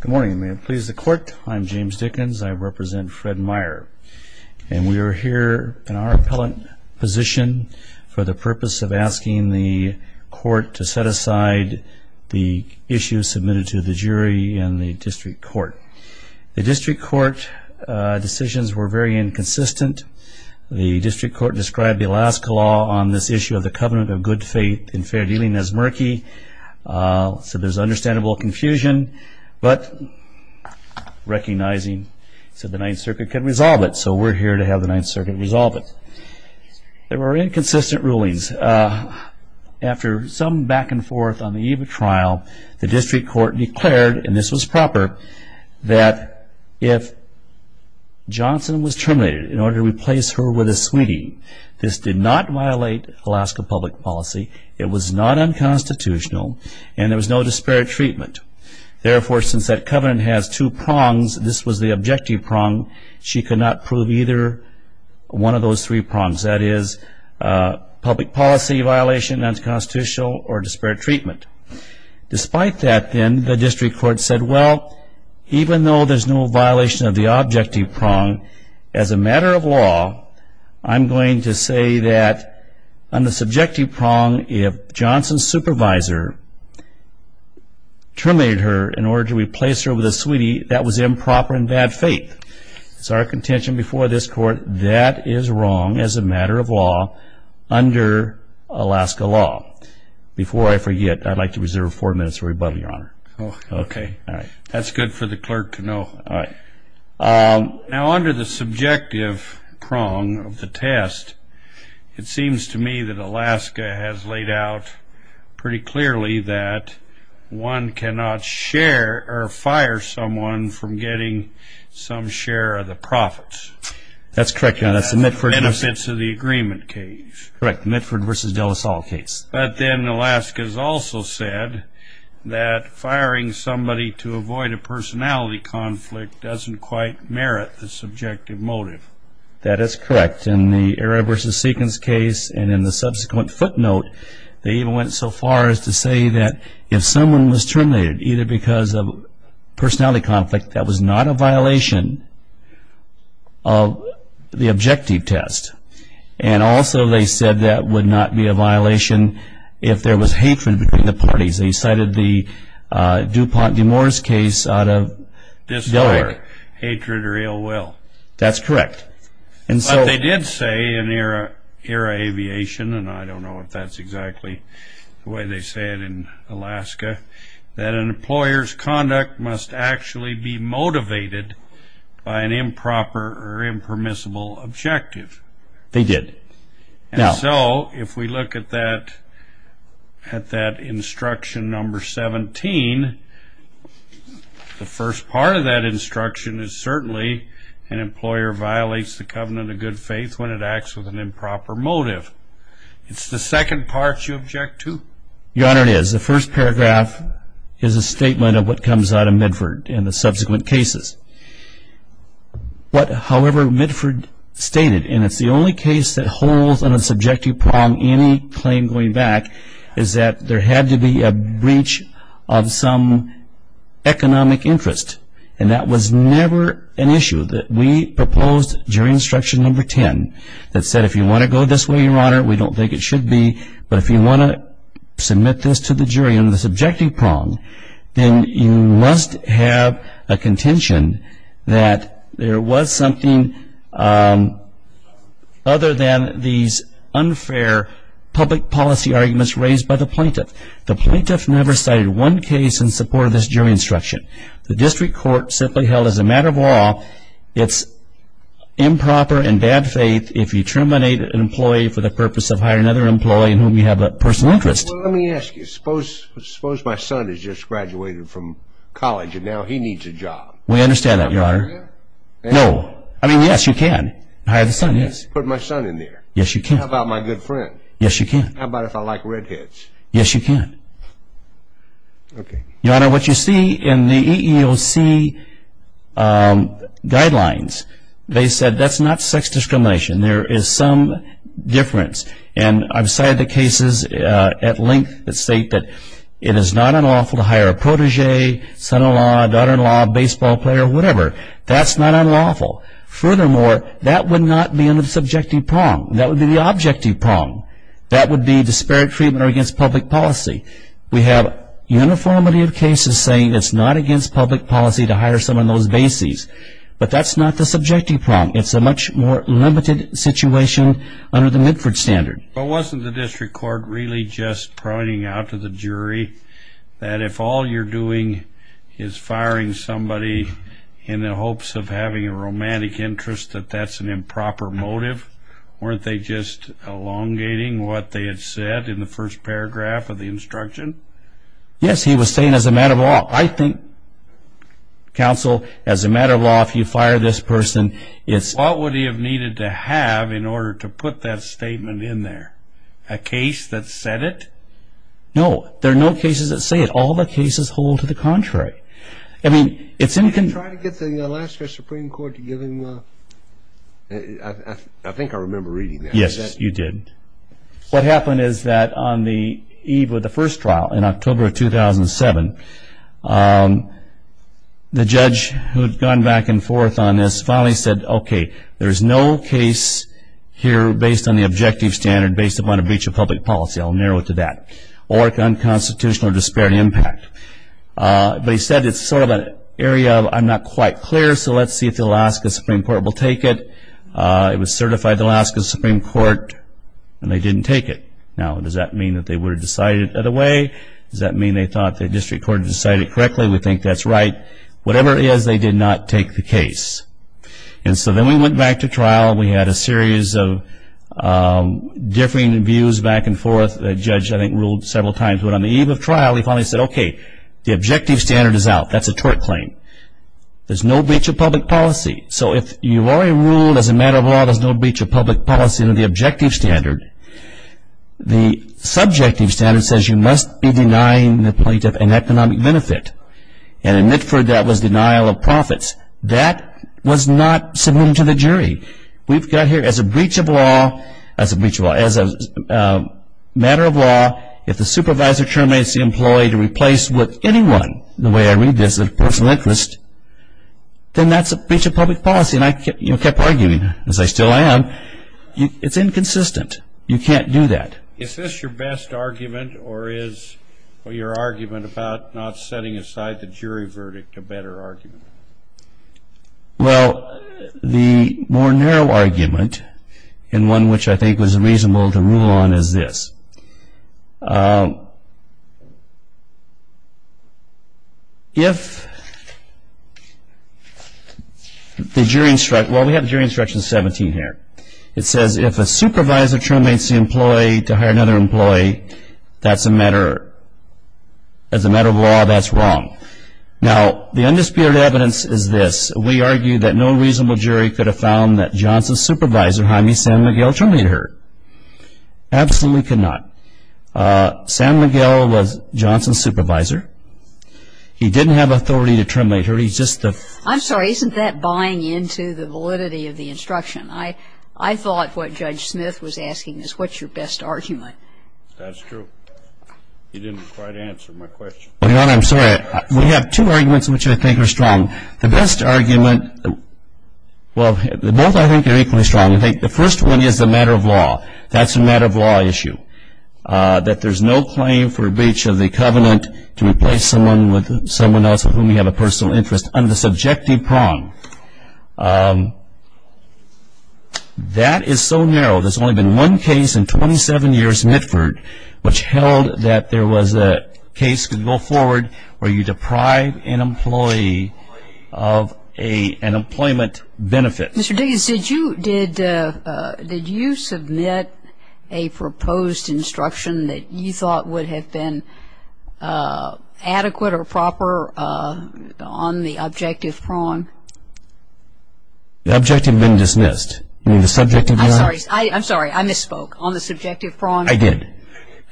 Good morning. May it please the court. I'm James Dickens. I represent Fred Meyer. And we are here in our appellate position for the purpose of asking the court to set aside the issues submitted to the jury and the district court. The district court decisions were very inconsistent. The district court described the Alaska law on this issue of the covenant of good faith and fair dealing as murky, so there's understandable confusion, but recognizing that the Ninth Circuit can resolve it, so we're here to have the Ninth Circuit resolve it. There were inconsistent rulings. After some back and forth on the eve of trial, the district court declared, and this was proper, that if Johnson was terminated in order to replace her with a sweetie, this did not violate Alaska public policy, it was not unconstitutional, and there was no disparate treatment. Therefore, since that covenant has two prongs, this was the objective prong, she could not prove either one of those three prongs, that is, public policy violation, non-constitutional, or disparate treatment. Despite that, then, the district court said, well, even though there's no violation of the objective prong, as a matter of law, I'm going to say that on the subjective prong, if Johnson's supervisor terminated her in order to replace her with a sweetie, that was improper and bad faith. It's our contention before this Court, that is wrong as a matter of law under Alaska law. Before I forget, I'd like to reserve four minutes for rebuttal, Your Honor. Okay. That's good for the clerk to know. All right. Now, under the subjective prong of the test, it seems to me that Alaska has laid out pretty clearly that one cannot fire someone from getting some share of the profits. That's correct, Your Honor. That's the Mitford v. De La Salle case. Correct, the Mitford v. De La Salle case. But then Alaska's also said that firing somebody to avoid a personality conflict doesn't quite merit the subjective motive. That is correct. In the Arra v. Seekins case and in the subsequent footnote, they even went so far as to say that if someone was terminated, either because of personality conflict, that was not a violation of the objective test. And also they said that would not be a violation if there was hatred between the parties. They cited the DuPont v. Demore's case out of Delaware. This is where hatred or ill will. That's correct. But they did say in the Arra v. Aviation, and I don't know if that's exactly the way they say it in Alaska, that an employer's conduct must actually be motivated by an improper or impermissible objective. They did. And so if we look at that instruction number 17, the first part of that instruction is certainly an employer violates the covenant of good faith when it acts with an improper motive. It's the second part you object to. Your Honor, it is. The first paragraph is a statement of what comes out of Midford and the subsequent cases. However, Midford stated, and it's the only case that holds on a subjective prong any claim going back, is that there had to be a breach of some economic interest. And that was never an issue that we proposed during instruction number 10 that said if you want to go this way, Your Honor, we don't think it should be, but if you want to submit this to the jury on the subjective prong, then you must have a contention that there was something other than these unfair public policy arguments raised by the plaintiff. The plaintiff never cited one case in support of this jury instruction. The district court simply held as a matter of law it's improper and bad faith if you terminate an employee for the purpose of hiring another employee in whom you have a personal interest. Well, let me ask you. Suppose my son has just graduated from college and now he needs a job. We understand that, Your Honor. Can I hire him? No. I mean, yes, you can hire the son, yes. Can I put my son in there? Yes, you can. How about my good friend? Yes, you can. How about if I like redheads? Yes, you can. Okay. Your Honor, what you see in the EEOC guidelines, they said that's not sex discrimination. There is some difference, and I've cited the cases at length that state that it is not unlawful to hire a protege, son-in-law, daughter-in-law, baseball player, whatever. That's not unlawful. Furthermore, that would not be in the subjective prong. That would be the objective prong. That would be disparate treatment or against public policy. We have a uniformity of cases saying it's not against public policy to hire someone on those bases, but that's not the subjective prong. It's a much more limited situation under the Midford standard. Well, wasn't the district court really just pointing out to the jury that if all you're doing is firing somebody in the hopes of having a romantic interest, that that's an improper motive? Weren't they just elongating what they had said in the first paragraph of the instruction? Yes, he was saying as a matter of law. Well, I think, counsel, as a matter of law, if you fire this person, it's... What would he have needed to have in order to put that statement in there? A case that said it? No, there are no cases that say it. All the cases hold to the contrary. I mean, it's in... Did you try to get the Alaska Supreme Court to give him a... I think I remember reading that. Yes, you did. What happened is that on the eve of the first trial, in October of 2007, the judge who had gone back and forth on this finally said, okay, there's no case here based on the objective standard, based upon a breach of public policy. I'll narrow it to that. Or unconstitutional disparity impact. But he said it's sort of an area I'm not quite clear, so let's see if the Alaska Supreme Court will take it. It was certified by the Alaska Supreme Court, and they didn't take it. Now, does that mean that they would have decided it that way? Does that mean they thought the district court had decided it correctly? We think that's right. Whatever it is, they did not take the case. And so then we went back to trial. We had a series of differing views back and forth. The judge, I think, ruled several times. But on the eve of trial, he finally said, okay, the objective standard is out. That's a tort claim. There's no breach of public policy. So if you've already ruled, as a matter of law, there's no breach of public policy under the objective standard, the subjective standard says you must be denying the plaintiff an economic benefit. And in Mitford, that was denial of profits. That was not submitted to the jury. We've got here, as a breach of law, as a matter of law, if the supervisor terminates the employee to replace with anyone, the way I read this, of personal interest, then that's a breach of public policy. And I kept arguing, as I still am, it's inconsistent. You can't do that. Is this your best argument, or is your argument about not setting aside the jury verdict a better argument? Well, the more narrow argument, and one which I think was reasonable to rule on, is this. If the jury instructs, well, we have jury instruction 17 here. It says if a supervisor terminates the employee to hire another employee, as a matter of law, that's wrong. Now, the undisputed evidence is this. We argue that no reasonable jury could have found that Johnson's supervisor, Jaime San Miguel, terminated her. Absolutely could not. San Miguel was Johnson's supervisor. He didn't have authority to terminate her. He's just the ---- I'm sorry. Isn't that buying into the validity of the instruction? I thought what Judge Smith was asking is what's your best argument. That's true. You didn't quite answer my question. Your Honor, I'm sorry. We have two arguments which I think are strong. The best argument, well, both I think are equally strong. I think the first one is the matter of law. That's a matter of law issue. That there's no claim for breach of the covenant to replace someone with someone else of whom you have a personal interest under the subjective prong. That is so narrow. There's only been one case in 27 years, Mitford, which held that there was a case could go forward where you deprive an employee of an employment benefit. Mr. Diggins, did you submit a proposed instruction that you thought would have been adequate or proper on the objective prong? The objective had been dismissed. You mean the subjective prong? I'm sorry. I misspoke. On the subjective prong. I did.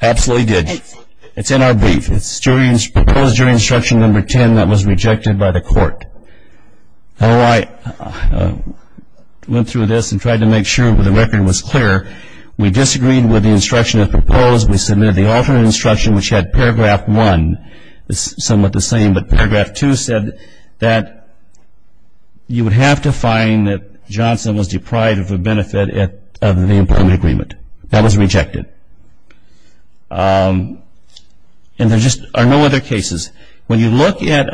I absolutely did. It's in our brief. It's proposed during instruction number 10 that was rejected by the court. I went through this and tried to make sure the record was clear. We disagreed with the instruction that was proposed. We submitted the alternate instruction, which had paragraph one somewhat the same, but paragraph two said that you would have to find that Johnson was deprived of a benefit of the employment agreement. That was rejected. And there just are no other cases. When you look at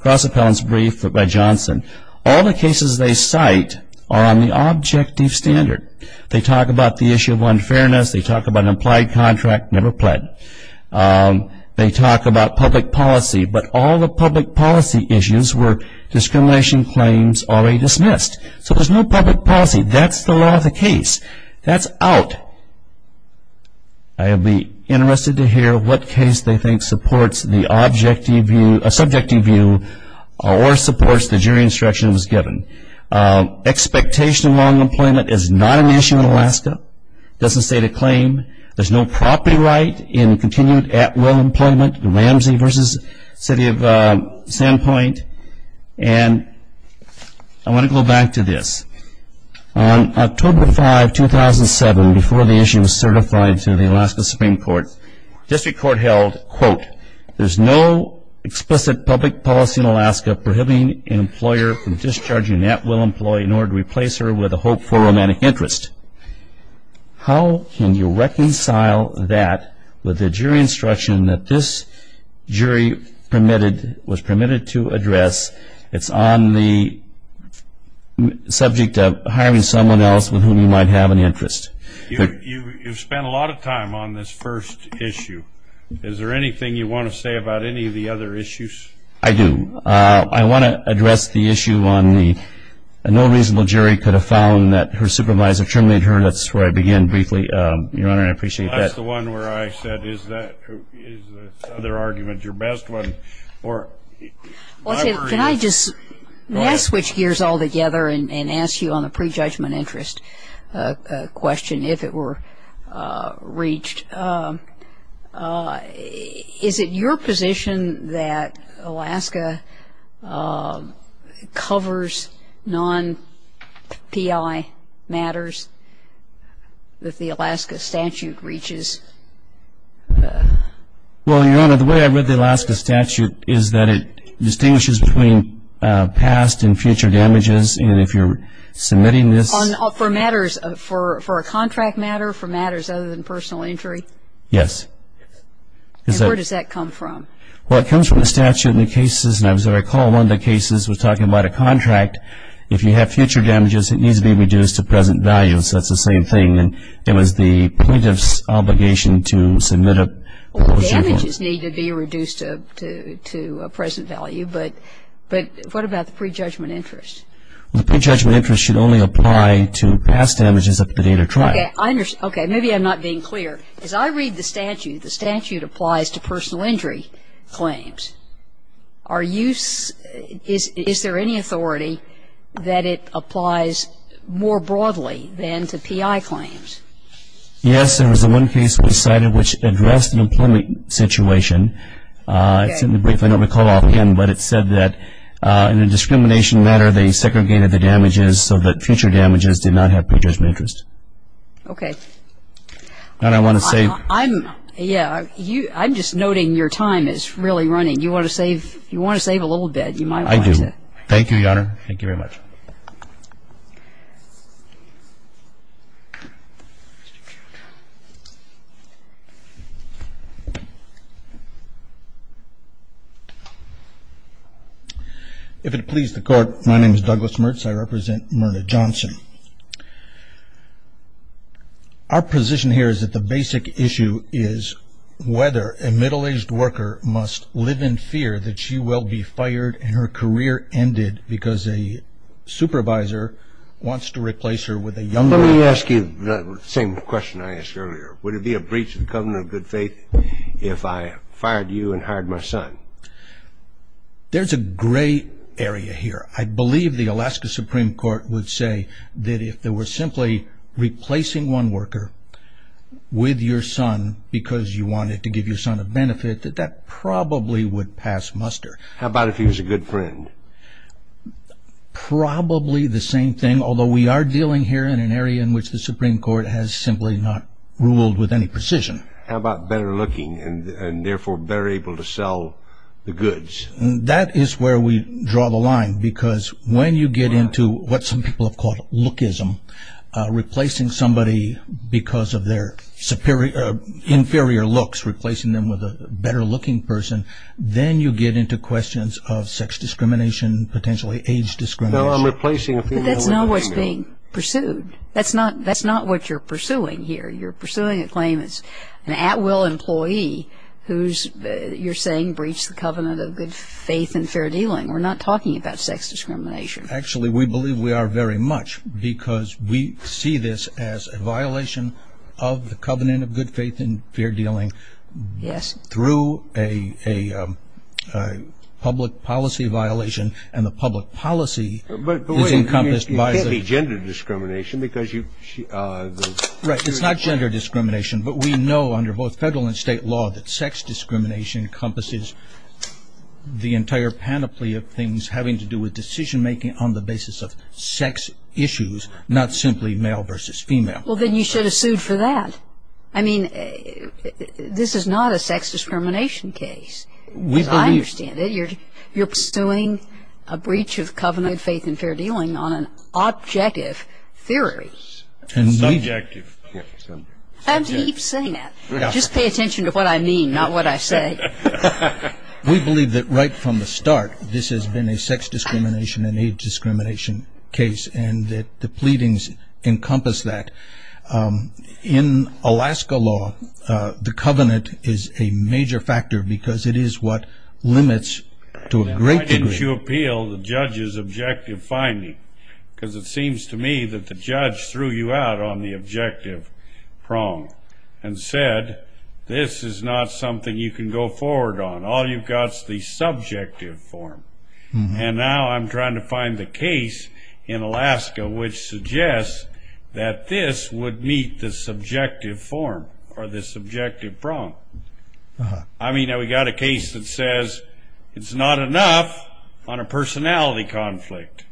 cross-appellants briefs by Johnson, all the cases they cite are on the objective standard. They talk about the issue of unfairness. They talk about an implied contract never pled. They talk about public policy. But all the public policy issues were discrimination claims already dismissed. So there's no public policy. That's the law of the case. That's out. I would be interested to hear what case they think supports the subjective view or supports the jury instructions given. Expectation of long employment is not an issue in Alaska. It doesn't state a claim. There's no property right in continued at-will employment, Ramsey v. City of Sandpoint. And I want to go back to this. On October 5, 2007, before the issue was certified to the Alaska Supreme Court, district court held, quote, there's no explicit public policy in Alaska prohibiting an employer from discharging at-will employee in order to replace her with a hopeful romantic interest. How can you reconcile that with the jury instruction that this jury was permitted to address? It's on the subject of hiring someone else with whom you might have an interest. You've spent a lot of time on this first issue. Is there anything you want to say about any of the other issues? I do. I want to address the issue on the no reasonable jury could have found that her supervisor terminated her. That's where I began briefly, Your Honor, and I appreciate that. That's the one where I said is that other argument your best one? Can I just switch gears altogether and ask you on a prejudgment interest question if it were reached? Is it your position that Alaska covers non-PI matters that the Alaska statute reaches? Well, Your Honor, the way I read the Alaska statute is that it distinguishes between past and future damages, and if you're submitting this. For a contract matter, for matters other than personal injury? Yes. And where does that come from? Well, it comes from the statute and the cases. And as I recall, one of the cases was talking about a contract. If you have future damages, it needs to be reduced to present value, so that's the same thing. And it was the plaintiff's obligation to submit a. Well, the damages need to be reduced to a present value, but what about the prejudgment interest? Well, the prejudgment interest should only apply to past damages up to the date of trial. Okay. Maybe I'm not being clear. As I read the statute, the statute applies to personal injury claims. Is there any authority that it applies more broadly than to PI claims? Yes. There was one case we cited which addressed an employment situation. If I don't recall offhand, but it said that in a discrimination matter, they segregated the damages so that future damages did not have prejudgment interest. Okay. And I want to say. I'm just noting your time is really running. You want to save a little bit. You might want to. I do. Thank you, Your Honor. Thank you very much. If it please the Court, my name is Douglas Mertz. I represent Myrna Johnson. Our position here is that the basic issue is whether a middle-aged worker must live in fear that she will be fired and her career ended because a supervisor wants to replace her with a younger. Let me ask you the same question I asked earlier. Would it be a breach of the covenant of good faith if I fired you? There's a gray area here. I believe the Alaska Supreme Court would say that if they were simply replacing one worker with your son because you wanted to give your son a benefit, that that probably would pass muster. How about if he was a good friend? Probably the same thing, although we are dealing here in an area in which the Supreme Court has simply not ruled with any precision. How about better looking and, therefore, better able to sell the goods? That is where we draw the line because when you get into what some people have called lookism, replacing somebody because of their inferior looks, replacing them with a better looking person, then you get into questions of sex discrimination, potentially age discrimination. No, I'm replacing a female worker. But that's not what's being pursued. That's not what you're pursuing here. You're pursuing a claim it's an at-will employee who's, you're saying, breached the covenant of good faith and fair dealing. We're not talking about sex discrimination. Actually, we believe we are very much because we see this as a violation of the covenant of good faith and fair dealing. Yes. Through a public policy violation, and the public policy is encompassed by the- But wait, it can't be gender discrimination because you- Right, it's not gender discrimination. But we know under both federal and state law that sex discrimination encompasses the entire panoply of things having to do with decision making on the basis of sex issues, not simply male versus female. Well, then you should have sued for that. I mean, this is not a sex discrimination case. We believe- As I understand it, you're pursuing a breach of covenant of good faith and fair dealing on an objective theory. Yes. Subjective. I'm to keep saying that. Just pay attention to what I mean, not what I say. We believe that right from the start, this has been a sex discrimination and age discrimination case, and that the pleadings encompass that. In Alaska law, the covenant is a major factor because it is what limits to a great degree- on the objective prong and said this is not something you can go forward on. All you've got is the subjective form. And now I'm trying to find the case in Alaska which suggests that this would meet the subjective form or the subjective prong. I mean, we've got a case that says it's not enough on a personality conflict.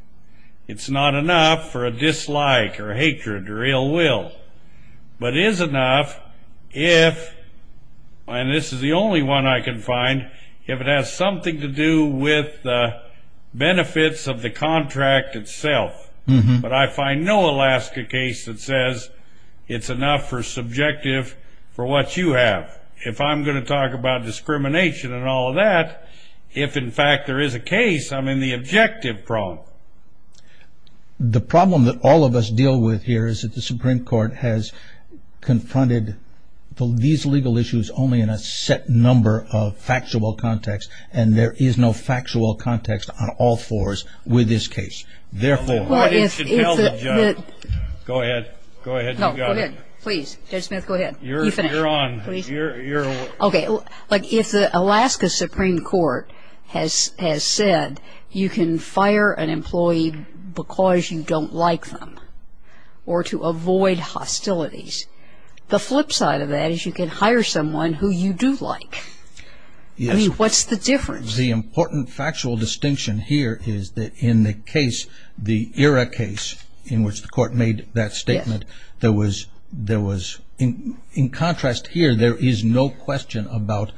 It's not enough for a dislike or hatred or ill will. But it is enough if- and this is the only one I can find- if it has something to do with the benefits of the contract itself. But I find no Alaska case that says it's enough for subjective for what you have. If I'm going to talk about discrimination and all of that, if, in fact, there is a case, I'm in the objective prong. The problem that all of us deal with here is that the Supreme Court has confronted these legal issues only in a set number of factual context, and there is no factual context on all fours with this case. Therefore- Go ahead. Go ahead. You got it. Please. Judge Smith, go ahead. You're on. Okay. If the Alaska Supreme Court has said you can fire an employee because you don't like them or to avoid hostilities, the flip side of that is you can hire someone who you do like. Yes. I mean, what's the difference? The important factual distinction here is that in the case, in which the court made that statement, there was, in contrast here, there is no question about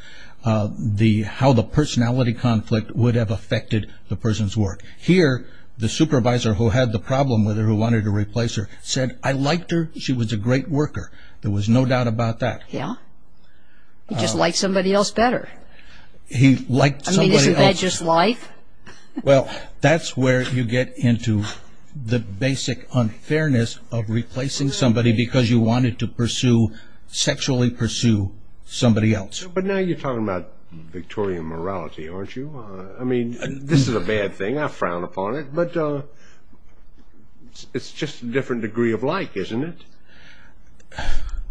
how the personality conflict would have affected the person's work. Here, the supervisor who had the problem with her, who wanted to replace her, said, I liked her. She was a great worker. There was no doubt about that. Yeah. He just liked somebody else better. He liked somebody else. I mean, isn't that just life? Well, that's where you get into the basic unfairness of replacing somebody because you wanted to pursue, sexually pursue, somebody else. But now you're talking about Victorian morality, aren't you? I mean, this is a bad thing. I frown upon it. But it's just a different degree of like, isn't it?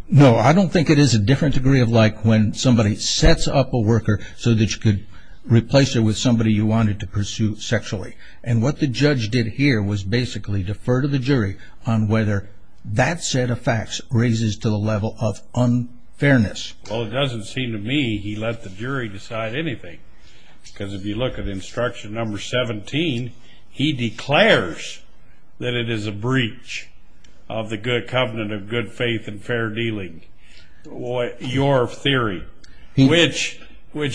No. I don't think it is a different degree of like when somebody sets up a worker so that you could replace her with somebody you wanted to pursue sexually. And what the judge did here was basically defer to the jury on whether that set of facts raises to the level of unfairness. Well, it doesn't seem to me he let the jury decide anything because if you look at instruction number 17, he declares that it is a breach of the good covenant of good faith and fair dealing. Your theory. Which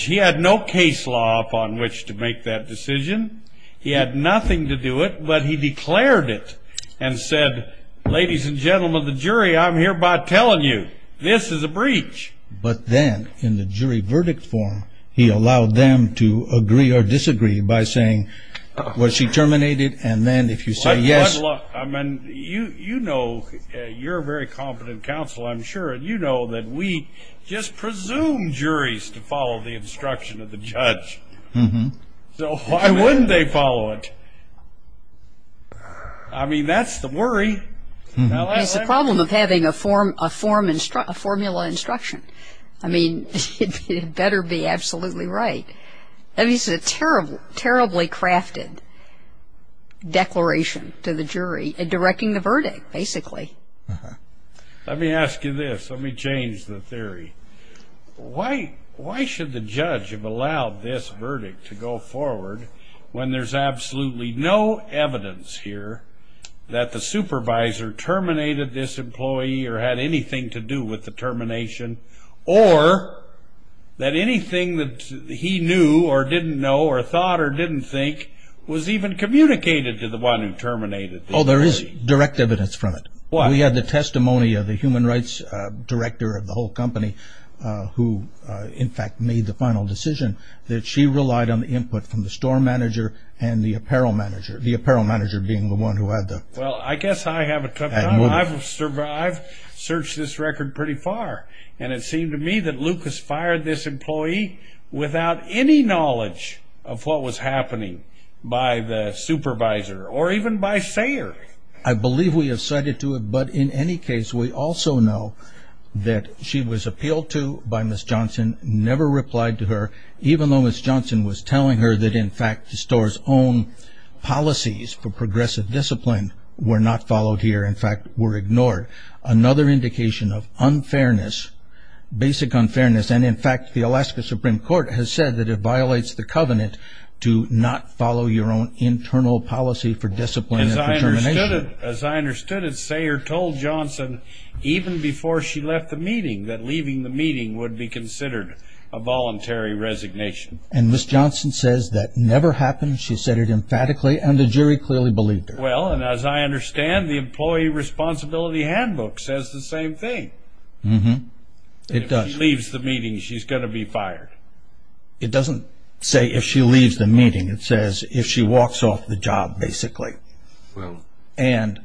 he had no case law upon which to make that decision. He had nothing to do it, but he declared it and said, ladies and gentlemen of the jury, I'm hereby telling you, this is a breach. But then in the jury verdict form, he allowed them to agree or disagree by saying, was she terminated? And then if you say yes. You know, you're a very competent counsel, I'm sure, and you know that we just presume juries to follow the instruction of the judge. So why wouldn't they follow it? I mean, that's the worry. It's the problem of having a formula instruction. I mean, it better be absolutely right. I mean, it's a terribly crafted declaration to the jury in directing the verdict, basically. Let me ask you this. Let me change the theory. Why should the judge have allowed this verdict to go forward when there's absolutely no evidence here that the supervisor terminated this employee or had anything to do with the termination or that anything that he knew or didn't know or thought or didn't think was even communicated to the one who terminated the employee? Oh, there is direct evidence from it. We had the testimony of the human rights director of the whole company who, in fact, made the final decision that she relied on the input from the store manager and the apparel manager, the apparel manager being the one who had the. Well, I guess I have a tough time. I've searched this record pretty far. And it seemed to me that Lucas fired this employee without any knowledge of what was happening by the supervisor or even by Sayer. I believe we have cited to it, but in any case, we also know that she was appealed to by Ms. Johnson, never replied to her, even though Ms. Johnson was telling her that, in fact, the store's own policies for progressive discipline were not followed here, in fact, were ignored. Another indication of unfairness, basic unfairness, and, in fact, the Alaska Supreme Court has said that it violates the covenant to not follow your own internal policy for discipline and determination. As I understood it, Sayer told Johnson even before she left the meeting that leaving the meeting would be considered a voluntary resignation. And Ms. Johnson says that never happened. She said it emphatically, and the jury clearly believed her. Well, and as I understand, the employee responsibility handbook says the same thing. It does. If she leaves the meeting, she's going to be fired. It doesn't say if she leaves the meeting. It says if she walks off the job, basically. And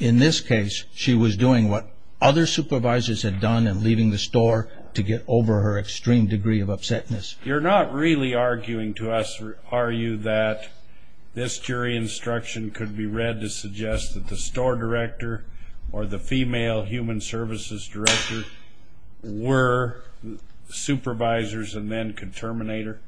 in this case, she was doing what other supervisors had done and leaving the store to get over her extreme degree of upsetness. You're not really arguing to us, are you, that this jury instruction could be read to suggest that the store director or the female human services director were supervisors and then could terminate her?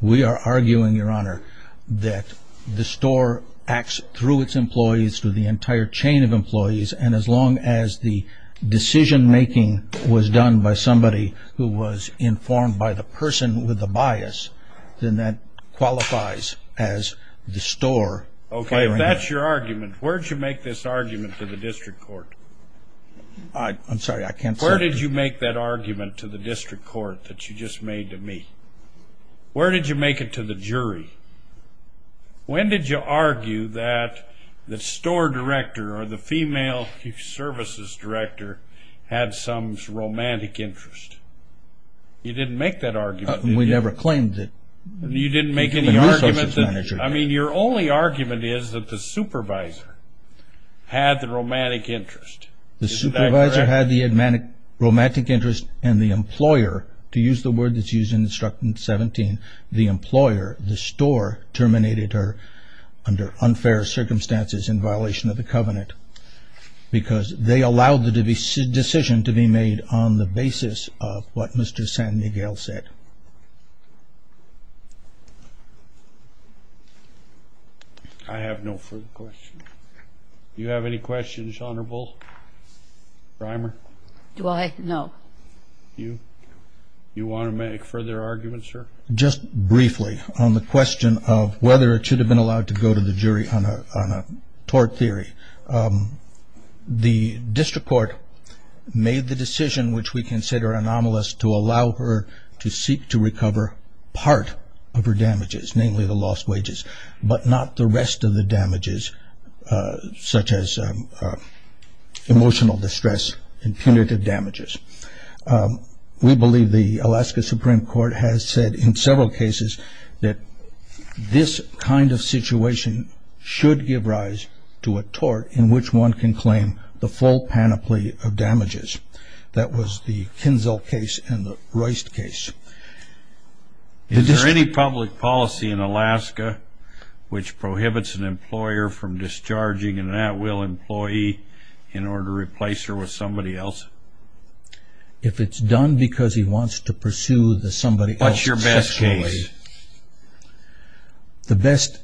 We are arguing, Your Honor, that the store acts through its employees, through the entire chain of employees, and as long as the decision-making was done by somebody who was informed by the person with the bias, then that qualifies as the store. Okay, if that's your argument, where did you make this argument to the district court? I'm sorry, I can't say. Where did you make that argument to the district court that you just made to me? Where did you make it to the jury? When did you argue that the store director or the female human services director had some romantic interest? You didn't make that argument. We never claimed that. You didn't make any argument. I mean, your only argument is that the supervisor had the romantic interest. The supervisor had the romantic interest and the employer, to use the word that's used in Instructant 17, the employer, the store, terminated her under unfair circumstances in violation of the covenant because they allowed the decision to be made on the basis of what Mr. San Miguel said. I have no further questions. Do you have any questions, Honorable Reimer? Do I? No. Do you want to make further arguments, sir? Just briefly on the question of whether it should have been allowed to go to the jury on a tort theory. The district court made the decision, which we consider anomalous, to allow her to seek to recover part of her damages, namely the lost wages, but not the rest of the damages, such as emotional distress and punitive damages. We believe the Alaska Supreme Court has said in several cases that this kind of situation should give rise to a tort in which one can claim the full panoply of damages. That was the Kinzel case and the Royst case. Is there any public policy in Alaska which prohibits an employer from discharging an at-will employee in order to replace her with somebody else? If it's done because he wants to pursue the somebody else sexually. What's your best case? The best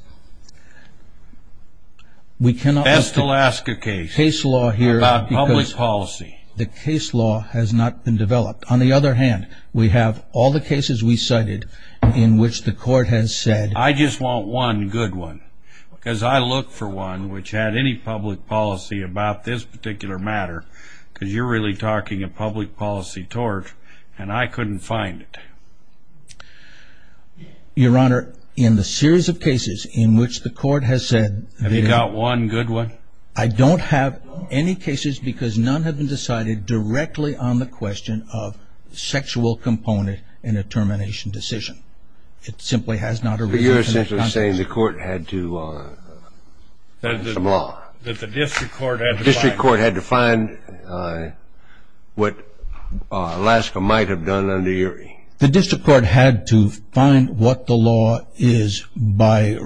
we cannot look at. Best Alaska case. Case law here. About public policy. The case law has not been developed. On the other hand, we have all the cases we cited in which the court has said. I just want one good one because I look for one which had any public policy about this particular matter because you're really talking a public policy tort and I couldn't find it. Your Honor, in the series of cases in which the court has said. Have you got one good one? I don't have any cases because none have been decided directly on the question of sexual component in a termination decision. It simply has not arisen. You're essentially saying the court had to. The district court had to find. The district court had to find what Alaska might have done under Urey. The district court had to find what the law is by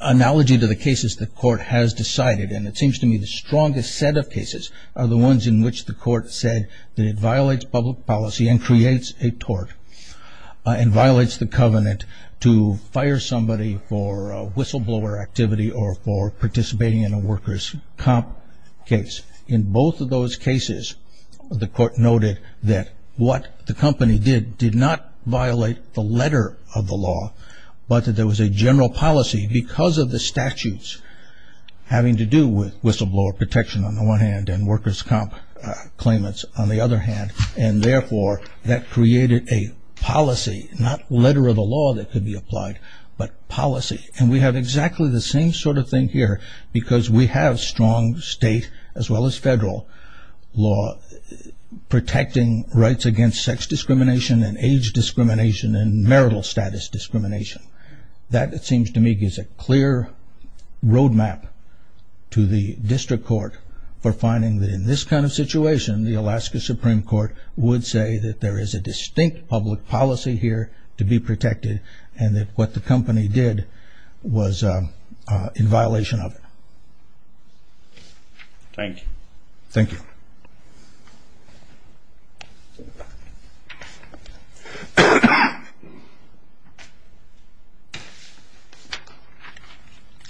analogy to the cases the court has decided and it seems to me the strongest set of cases are the ones in which the court said that it violates public policy and creates a tort and violates the covenant to fire somebody for whistleblower activity or for participating in a workers' comp case. In both of those cases, the court noted that what the company did did not violate the letter of the law but that there was a general policy because of the statutes having to do with whistleblower protection on the one hand and workers' comp claimants on the other hand and therefore that created a policy not letter of the law that could be applied but policy and we have exactly the same sort of thing here because we have strong state as well as federal law protecting rights against sex discrimination and age discrimination and marital status discrimination. That it seems to me is a clear road map to the district court for finding that in this kind of situation the Alaska Supreme Court would say that there is a distinct public policy here to be protected and that what the company did was in violation of it. Thank you. Thank you.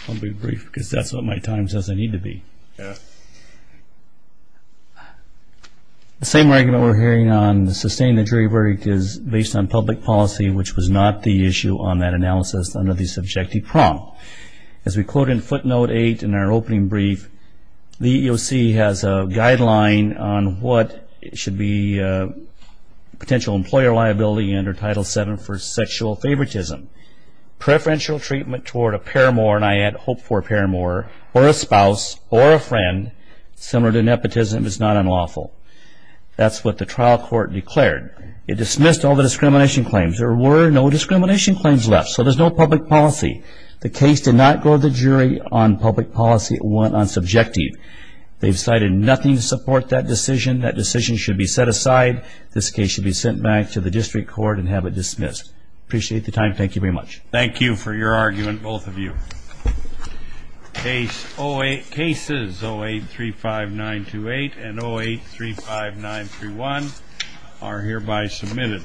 I'll be brief because that's what my time says I need to be. Yes. The same argument we're hearing on sustaining the jury verdict is based on public policy which was not the issue on that analysis under the subjective prompt. As we quote in footnote 8 in our opening brief, the EEOC has a guideline on what should be potential employer liability under title 7 for sexual favoritism. Preferential treatment toward a paramour and I add hope for a paramour or a spouse or a friend similar to nepotism is not unlawful. That's what the trial court declared. It dismissed all the discrimination claims. There were no discrimination claims left so there's no public policy. The case did not go to the jury on public policy. It went on subjective. They've cited nothing to support that decision. That decision should be set aside. This case should be sent back to the district court and have it dismissed. Appreciate the time. Thank you very much. Thank you for your argument, both of you. Cases 0835928 and 0835931 are hereby submitted.